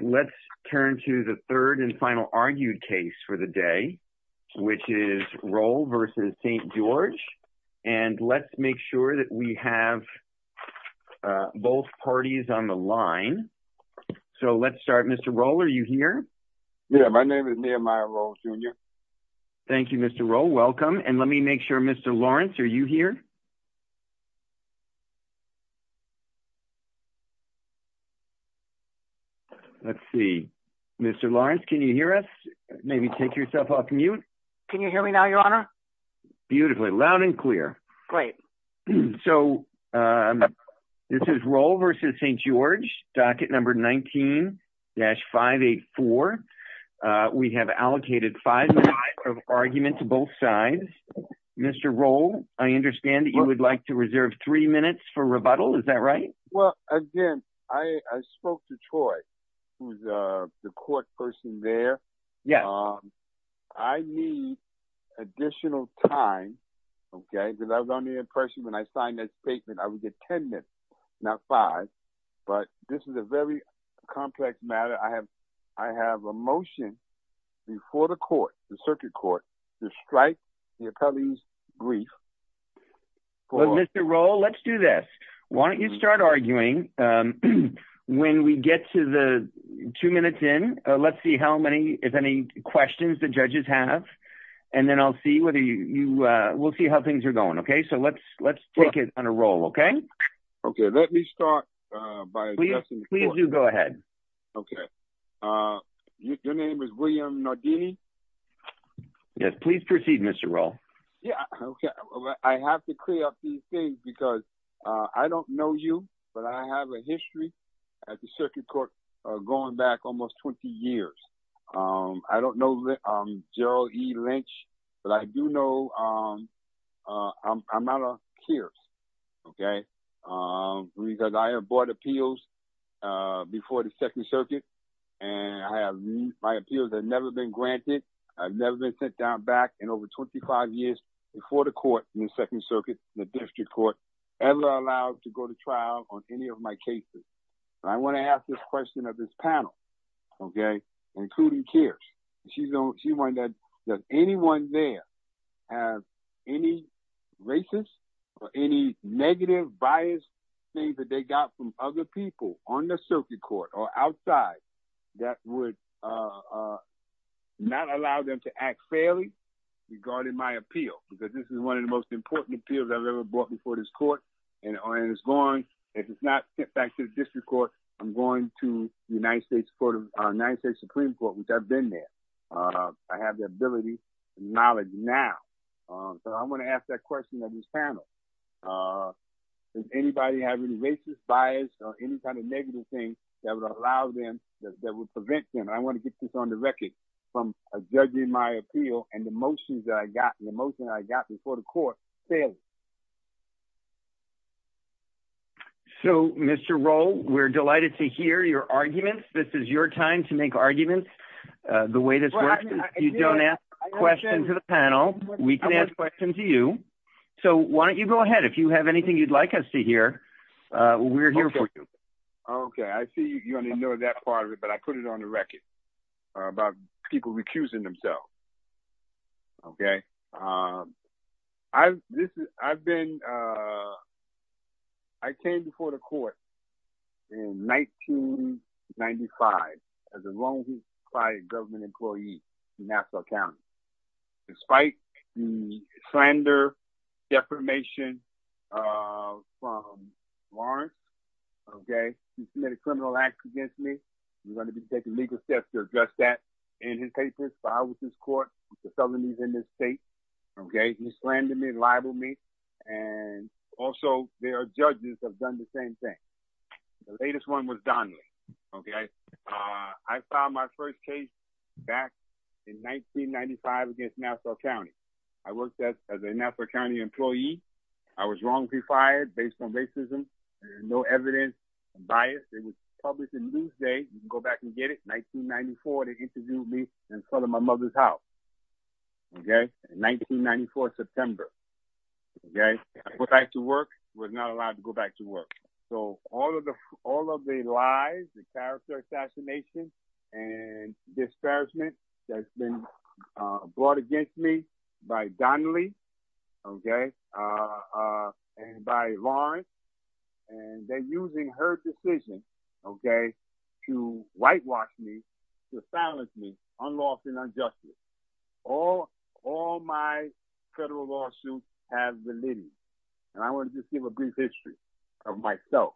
Let's turn to the third and final argued case for the day, which is Roll v. St. George, and let's make sure that we have both parties on the line. So let's start. Mr. Roll, are you here? Yeah, my name is Nehemiah Roll, Jr. Thank you, Mr. Roll. Welcome. And let me make sure, Mr. Lawrence, are you here? No. Let's see. Mr. Lawrence, can you hear us? Maybe take yourself off mute. Can you hear me now, Your Honor? Beautifully. Loud and clear. Great. So this is Roll v. St. George, docket number 19-584. We have allocated five minutes of argument to both sides. Mr. Roll, I understand that you would like to reserve three minutes for rebuttal. Is that right? Well, again, I spoke to Troy, who's the court person there. I need additional time, okay, because I was under the impression when I signed that statement, I would get 10 minutes, not five. But this is a very complex matter. I have a motion before the court, the circuit court, to strike the attorney's brief. Well, Mr. Roll, let's do this. Why don't you start arguing? When we get to the two minutes in, let's see how many, if any, questions the judges have. And then I'll see whether you, we'll see how things are going, okay? So let's take it on a roll, okay? Okay, let me start by addressing the court. Please do go ahead. Okay. Your name is William Nardini? Yes. Please proceed, Mr. Roll. Yeah, okay. I have to clear up these things because I don't know you, but I have a history at the circuit court going back almost 20 years. I don't know Gerald E. Lynch, but I do know I'm out of cures, okay? Because I have bought appeals before the Second Circuit, and my appeals have never been granted. I've never been sent down back in over 25 years before the court in the Second Circuit, the district court, ever allowed to go to trial on any of my cases. And I want to ask this question of this panel, okay, including CARES. She wondered, does anyone there have any racist or any negative bias things that they got from other people on the circuit court or outside that would not allow them to act fairly regarding my appeal? Because this is one of the most important appeals I've ever brought before this court, and if it's not sent back to the district court, I'm going to the United States Supreme Court, which I've been there. I have the ability and knowledge now. So I want to ask that bias or any kind of negative thing that would allow them, that would prevent them. I want to get this on the record from a judge in my appeal and the motions that I got, the motion I got before the court fairly. So, Mr. Rowe, we're delighted to hear your arguments. This is your time to make arguments the way this works. If you don't ask a question to the panel, we can ask questions to you. So why don't you go ahead? If you have anything you'd like us to hear, we're here for you. Okay. I see you only know that part of it, but I put it on the record about people recusing themselves. Okay. I've been, I came before the court in 1995 as a lonely, quiet government employee in Nassau County. Despite the slander, defamation from Lawrence. Okay. He submitted criminal acts against me. He's going to be taking legal steps to address that in his papers filed with this court, with the Southerners in this state. Okay. He slandered me and libeled me. And also there are judges have done the same thing. The latest one was Donnelly. Okay. I filed my first case back in 1995 against Nassau County. I worked as a Nassau County employee. I was wrongfully fired based on racism. No evidence and bias. It was published in Newsday. You can go back and get it. 1994, they interviewed me in front of my mother's house. Okay. In 1994, September. Okay. I went back to work, was not allowed to go back to work. So all of the, all of the lies, the character assassination and disparagement that's been brought against me by Donnelly. Okay. And by Lawrence, and they're using her decision. Okay. To whitewash me, to silence me, unlawful and unjustly. All, all my federal lawsuits have been litigated. And I want to just give a brief history of myself.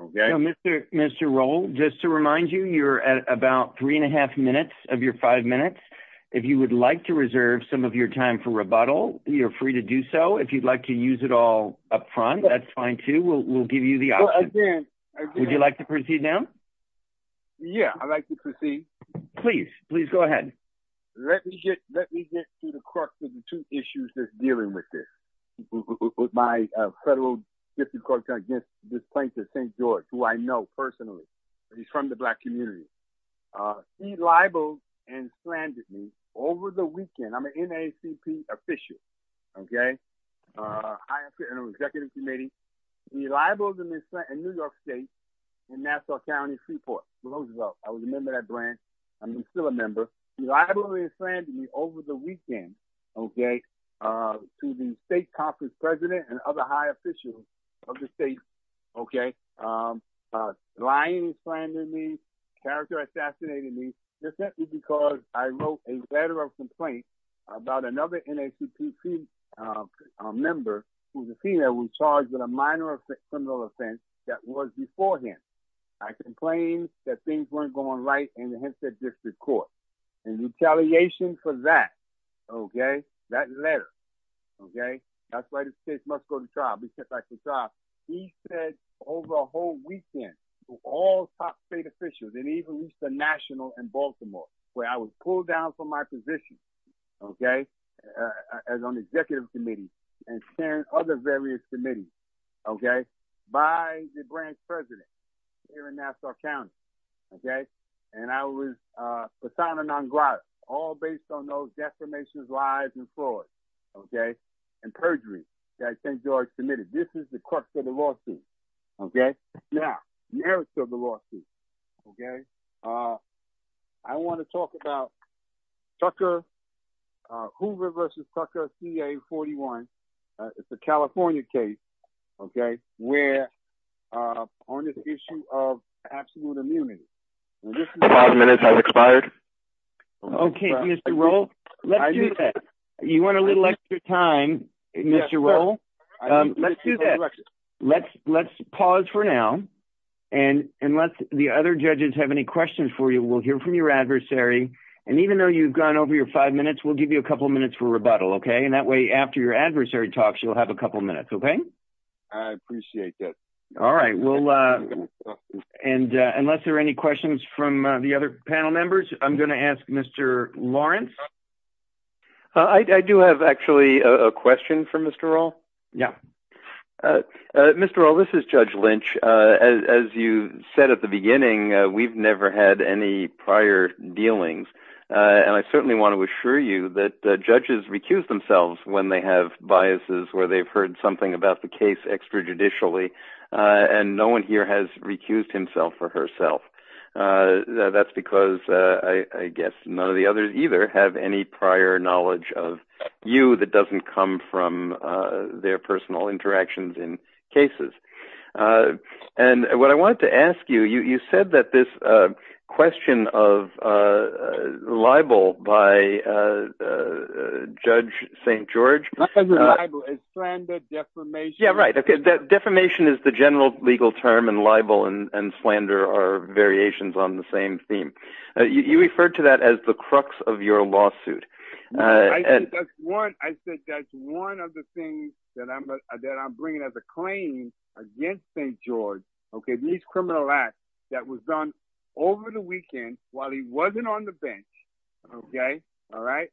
Okay. Mr. Mr. Roll, just to remind you, you're at about three and a half minutes of your five minutes. If you would like to reserve some of your time for rebuttal, you're free to do so. If you'd like to use it all up front, that's fine too. We'll, we'll give you the option. Would you like to proceed now? Yeah, I'd like to proceed. Please, please go ahead. Let me get, let me get to the crux of the two issues that's dealing with this with my federal disenfranchisement against this plaintiff, St. George, who I know personally, but he's from the black community. He libeled and slandered me over the weekend. I'm an NACP official. Okay. Higher executive committee. He libeled and slandered me in New York state, in Nassau County, Freeport. I was a member of that branch. I'm still a member. He libeled and slandered me, character assassinated me, just simply because I wrote a letter of complaint about another NACP member who was a female who was charged with a minor of criminal offense that was before him. I complained that things weren't going right in the Hempstead District and retaliation for that. Okay. That letter. Okay. That's why this case must go to trial. He said over a whole weekend, all top state officials and even reach the national and Baltimore where I was pulled down from my position. Okay. As an executive committee and other various committees. Okay. By the branch president here in Nassau County. Okay. And I was, all based on those defamations, lies and fraud. Okay. And perjury that St. George submitted. This is the crux of the lawsuit. Okay. Now, narrative of the lawsuit. Okay. I want to talk about Tucker, Hoover versus Tucker CA 41. It's a California case. Okay. Where on this issue of absolute immunity, five minutes has expired. Okay. Mr. Roll, let's do that. You want a little extra time, Mr. Roll. Let's do that. Let's, let's pause for now. And unless the other judges have any questions for you, we'll hear from your adversary. And even though you've gone over your five minutes, we'll give you a couple of minutes for rebuttal. Okay. And that way, after your adversary talks, you'll have a couple of minutes. I appreciate that. All right. Well, and unless there are any questions from the other panel members, I'm going to ask Mr. Lawrence. I do have actually a question for Mr. Roll. Yeah. Mr. Roll, this is judge Lynch. As you said at the beginning, we've never had any prior dealings. And I certainly want to assure you that the judges recuse themselves when they have biases, where they've heard something about the case extra judicially, and no one here has recused himself or herself. That's because I guess none of the others either have any prior knowledge of you that doesn't come from their personal interactions in cases. And what I wanted to ask you, you said that this question of libel by Judge St. George- Not just libel, it's slander, defamation. Yeah, right. Okay. Defamation is the general legal term and libel and slander are variations on the same theme. You referred to that as the crux of your lawsuit. I said that's one of the things that I'm bringing as a claim against St. George- That was done over the weekend while he wasn't on the bench. Okay. All right.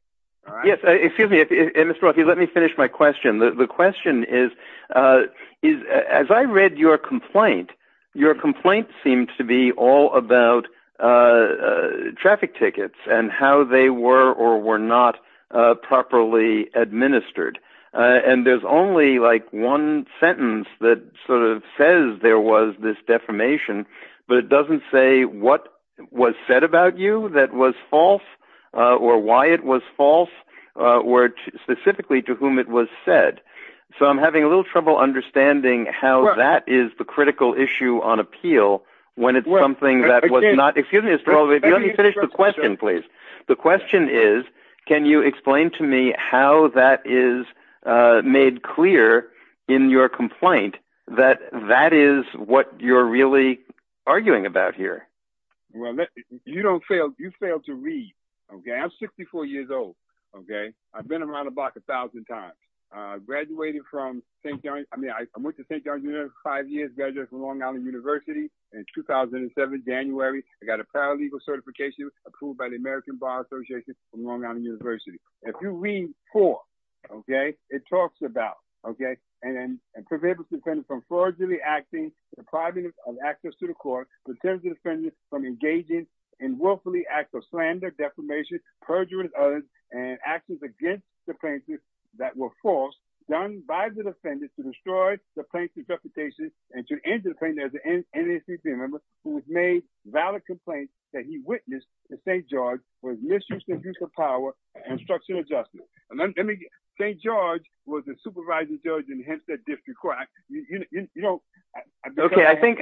Yes. Excuse me, Mr. Roll, if you let me finish my question. The question is, as I read your complaint, your complaint seemed to be all about traffic tickets and how they were or were not properly administered. And there's only like one sentence that sort of says there was this defamation, but it doesn't say what was said about you that was false or why it was false or specifically to whom it was said. So I'm having a little trouble understanding how that is the critical issue on appeal when it's something that was not- Excuse me, Mr. Roll, if you let me finish the question, please. The question is, can you explain to me how that is made clear in your complaint that that is what you're really arguing about here? Well, you don't fail. You fail to read. Okay. I'm 64 years old. Okay. I've been around the block a thousand times. I graduated from St. George. I mean, I went to St. George for five years, graduated from Long Island University in 2007, January. I got a paralegal certification approved by the American Bar Association from Long Island University. If you read four, okay, it talks about, okay, and then prevent the defendant from fraudulently acting, depriving him of access to the court, preventing the defendant from engaging in willfully acts of slander, defamation, perjury, and others, and actions against the plaintiff that were false, done by the defendant to destroy the plaintiff's reputation and to end the plaintiff as an NACP member who has made valid complaints that he witnessed that St. George was misusing his power and structural adjustment. St. George was the supervising judge in Hempstead District Court. Okay. I think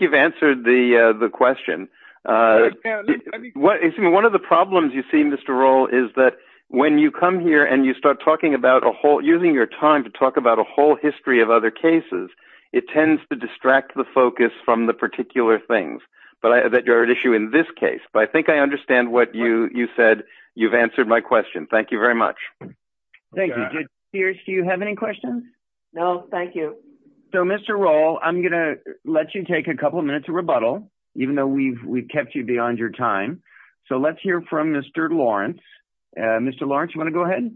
you've answered the question. One of the problems you see, Mr. Roll, is that when you come here and you start using your time to talk about a whole history of other cases, it tends to distract the focus from the particular things that are at issue in this case, but I think I understand what you said. You've answered my question. Thank you very much. Thank you. Pierce, do you have any questions? No, thank you. So, Mr. Roll, I'm going to let you take a couple of minutes of rebuttal, even though we've kept you beyond your time. So, let's hear from Mr. Lawrence. Mr. Lawrence, you want to go ahead?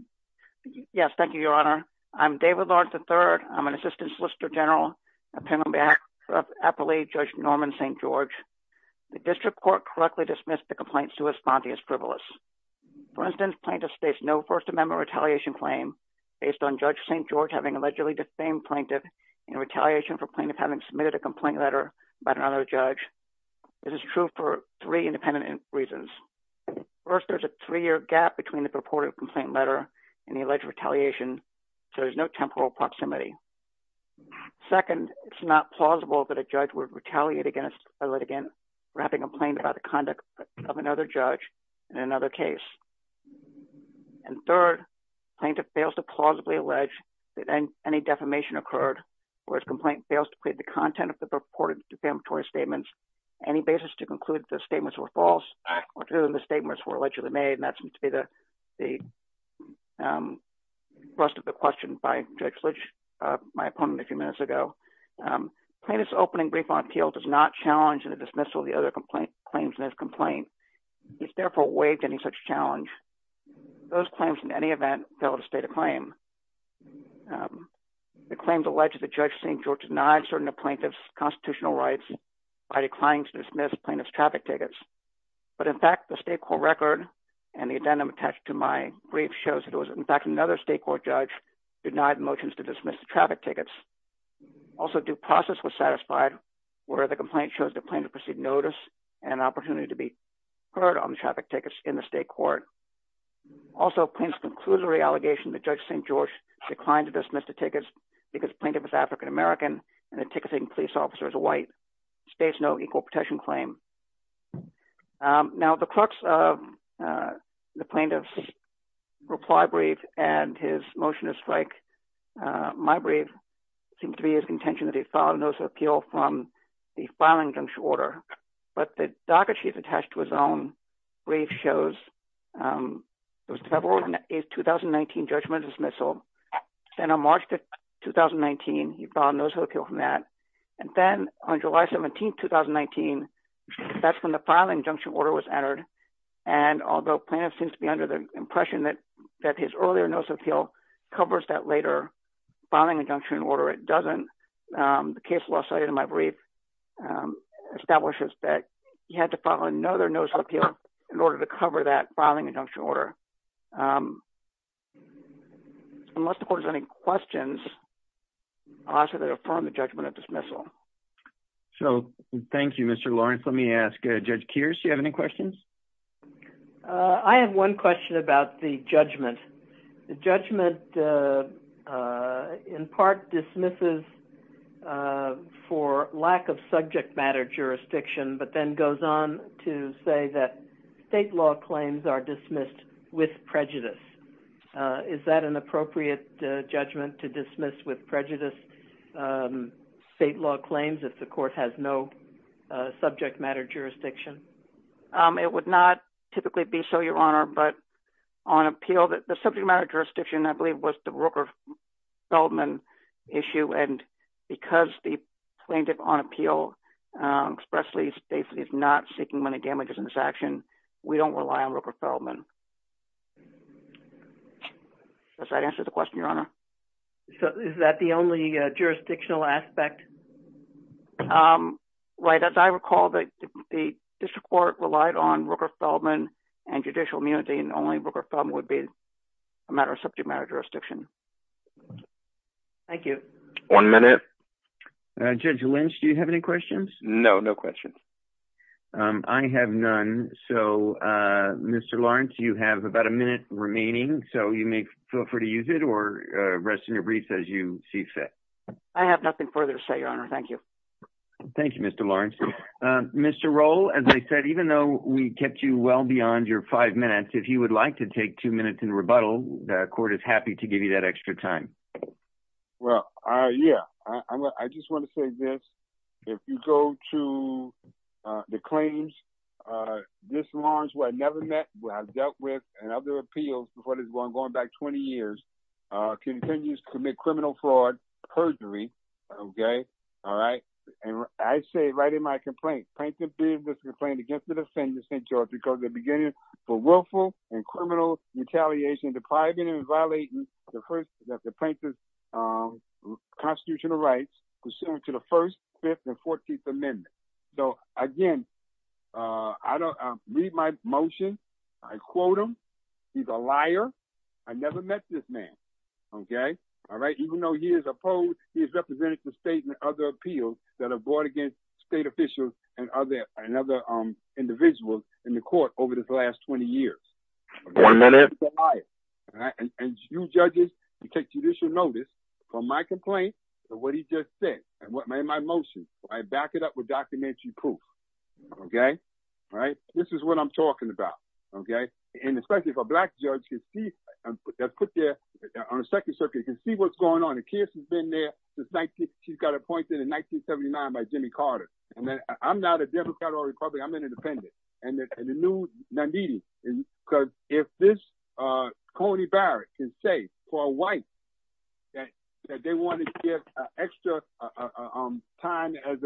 Yes. Thank you, Your Honor. I'm David Lawrence III. I'm an Assistant Solicitor General of Appalachia Judge Norman St. George. The District Court correctly dismissed the complaint sui fonte as frivolous. For instance, plaintiff states no First Amendment retaliation claim based on Judge St. George having allegedly defamed plaintiff in retaliation for plaintiff having submitted a complaint letter by another judge. This is true for three independent reasons. First, there's a three-year gap between the purported complaint letter and the alleged retaliation, so there's no temporal proximity. Second, it's not plausible that a judge would retaliate against a litigant for having complained about the conduct of another judge in another case. And third, plaintiff fails to plausibly allege that any defamation occurred, or his complaint fails to include the content of the purported defamatory statements, any basis to conclude the statements were false, or to whom the statements were allegedly made, and that seems to be the thrust of the question by Judge Litch, my opponent, a few minutes ago. Plaintiff's opening brief on appeal does not challenge the dismissal of the other claims in his complaint. He's therefore waived any such challenge. Those claims, in any event, fail to state a claim. The claims allege that Judge St. George denied certain of plaintiff's constitutional rights by declining to dismiss plaintiff's traffic tickets. But in fact, the state court record and the addendum attached to my brief shows that it was, in fact, another state court judge denied the motions to dismiss the traffic tickets. Also, due process was satisfied, where the complaint shows the plaintiff received notice and an opportunity to be heard on the traffic tickets in the state court. Also, plaintiff's conclusory allegation that Judge St. George declined to dismiss the tickets because plaintiff is African-American and the ticketing police officer is a white states no equal protection claim. Now, the clerks of the plaintiff's reply brief and his motion to strike my brief seems to be his contention that he filed a notice of appeal from the filing juncture order. But the docket sheet attached to his own brief shows it was February 8th, 2019, judgment dismissal. Then on March 2, 2019, he filed a notice of appeal from that. And then on July 17, 2019, that's when the filing junction order was entered. And although plaintiff seems to be under the impression that his earlier notice of appeal covers that later filing injunction order, it doesn't. The case law cited in my brief establishes that he had to file another notice of appeal in order to cover that filing injunction order. Unless the court has any questions, I'll ask that they affirm the judgment of dismissal. So, thank you, Mr. Lawrence. Let me ask Judge Kears, do you have any questions? I have one question about the judgment. The judgment in part dismisses for lack of subject matter jurisdiction, but then goes on to say that state law claims are dismissed with prejudice. Is that an appropriate judgment to dismiss with prejudice state law claims if the court has no subject matter jurisdiction? It would not typically be so, Your Honor. But on appeal, the subject matter jurisdiction, I believe, was the Rooker-Feldman issue. And because the plaintiff on appeal expressly states he's not seeking money damages in this action, we don't rely on Rooker-Feldman. Does that answer the question, Your Honor? Is that the only jurisdictional aspect? Right. As I recall, the district court relied on Rooker-Feldman and judicial immunity, and only Rooker-Feldman would be a matter of subject matter jurisdiction. Thank you. One minute. Judge Lynch, do you have any questions? No, no questions. I have none. So, Mr. Lawrence, you have about a minute remaining, so you may feel free to use it or rest in your briefs as you see fit. I have nothing further to say, Your Honor. Thank you. Thank you, Mr. Lawrence. Mr. Roll, as I said, even though we kept you well beyond your five minutes, if you would like to take two minutes in rebuttal, the court is happy to give you that Yeah, I just want to say this. If you go to the claims, Mr. Lawrence, who I never met, who I've dealt with, and other appeals before this one, going back 20 years, continues to commit criminal fraud, perjury, okay? All right. And I say right in my complaint, plaintiff did this complaint against the defendant, St. George, because at the beginning, for willful and criminal retaliation, the plaintiff is violating the plaintiff's constitutional rights pursuant to the First, Fifth, and Fourteenth Amendments. So, again, read my motion. I quote him. He's a liar. I never met this man, okay? All right? Even though he is opposed, he has represented the state in other appeals that are brought against state officials and other individuals in the court over this last 20 years. One minute. He's a liar, all right? And you judges, you take judicial notice from my complaint, what he just said, and what made my motion. I back it up with documentary proof, okay? All right? This is what I'm talking about, okay? And especially if a Black judge can see, they'll put their, on the Second Circuit, can see what's going on. It appears he's been there since 19, he's got appointed in 1979 by Jimmy Carter. And then I'm not a Democrat or Republican, I'm an independent. And the news, not needed. Because if this, Coney Barrett can say for a white that they wanted to give extra time as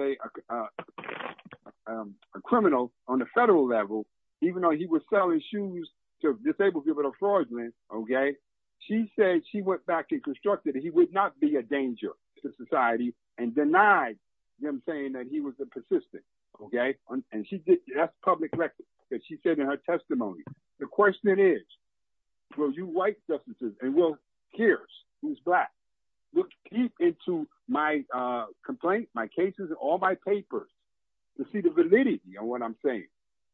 a criminal on the federal level, even though he was selling shoes to disabled people in a fraudulent, okay, she said she went back and constructed, he would not be a danger to society and denied him saying that he was a persistent, okay? And she did, that's public record that she said in her testimony. The question is, will you white justices and will Kears, who's Black, look deep into my complaint, my cases and all my papers to see the validity of what I'm saying,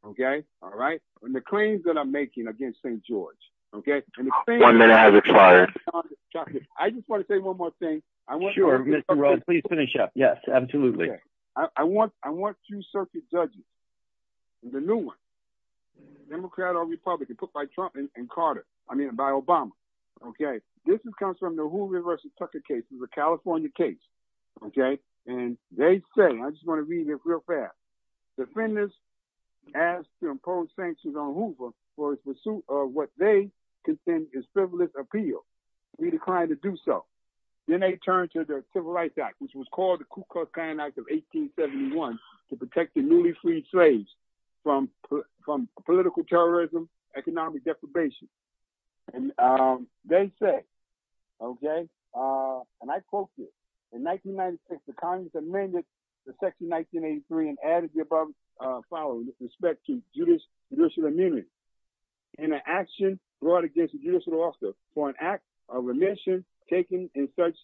okay? All right? And the claims that I'm making against St. George, okay? One minute has expired. I just want to say one more thing. Sure, Mr. Rhodes, please finish up. Yes, absolutely. I want two circuit judges, the new one, Democrat or Republican, put by Trump and Carter, I mean, by Obama, okay? This comes from the Hoover v. Tucker case, it was a California case, okay? And they say, I just want to read this real fast. Defendants asked to impose sanctions on the state. They declined to do so. Then they turned to the Civil Rights Act, which was called the Ku Klux Klan Act of 1871 to protect the newly freed slaves from political terrorism, economic deprivation. And they said, okay, and I quote here, in 1996, the Congress amended the section 1983 and added the above following with respect to judicial immunity. In an action brought against a judicial officer for an act of remission taken in such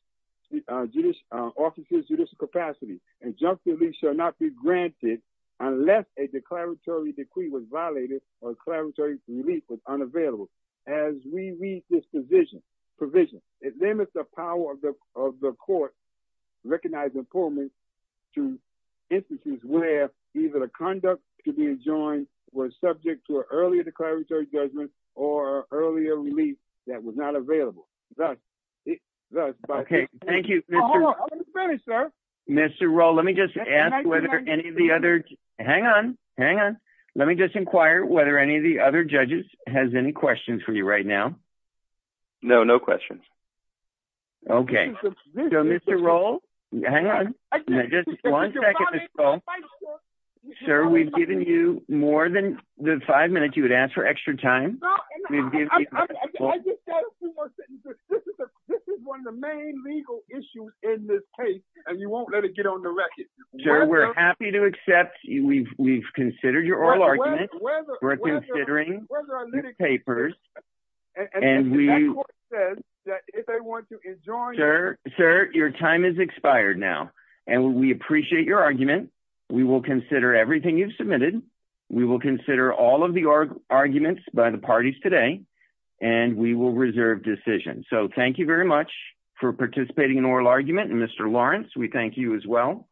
officer's judicial capacity, injunctively shall not be granted unless a declaratory decree was violated or declaratory relief was unavailable. As we read this provision, it limits the power of the court recognizing poor men to instances where either the conduct could be enjoined were subject to an earlier declaratory judgment or earlier relief that was not available. Okay, thank you. Mr. Roll, let me just ask whether any of the other, hang on, hang on. Let me just inquire whether any of the other judges has any questions for you right now. No, no questions. Okay, so Mr. Roll, hang on, just one second. Sir, we've given you more than the five minutes you would ask for extra time. This is one of the main legal issues in this case, and you won't let it get on the record. Sir, we're happy to accept. We've considered your oral argument. We're going to adjourn. Sir, your time has expired now, and we appreciate your argument. We will consider everything you've submitted. We will consider all of the arguments by the parties today, and we will reserve decisions. So thank you very much for participating in oral argument, and Mr. Lawrence, we thank you as well.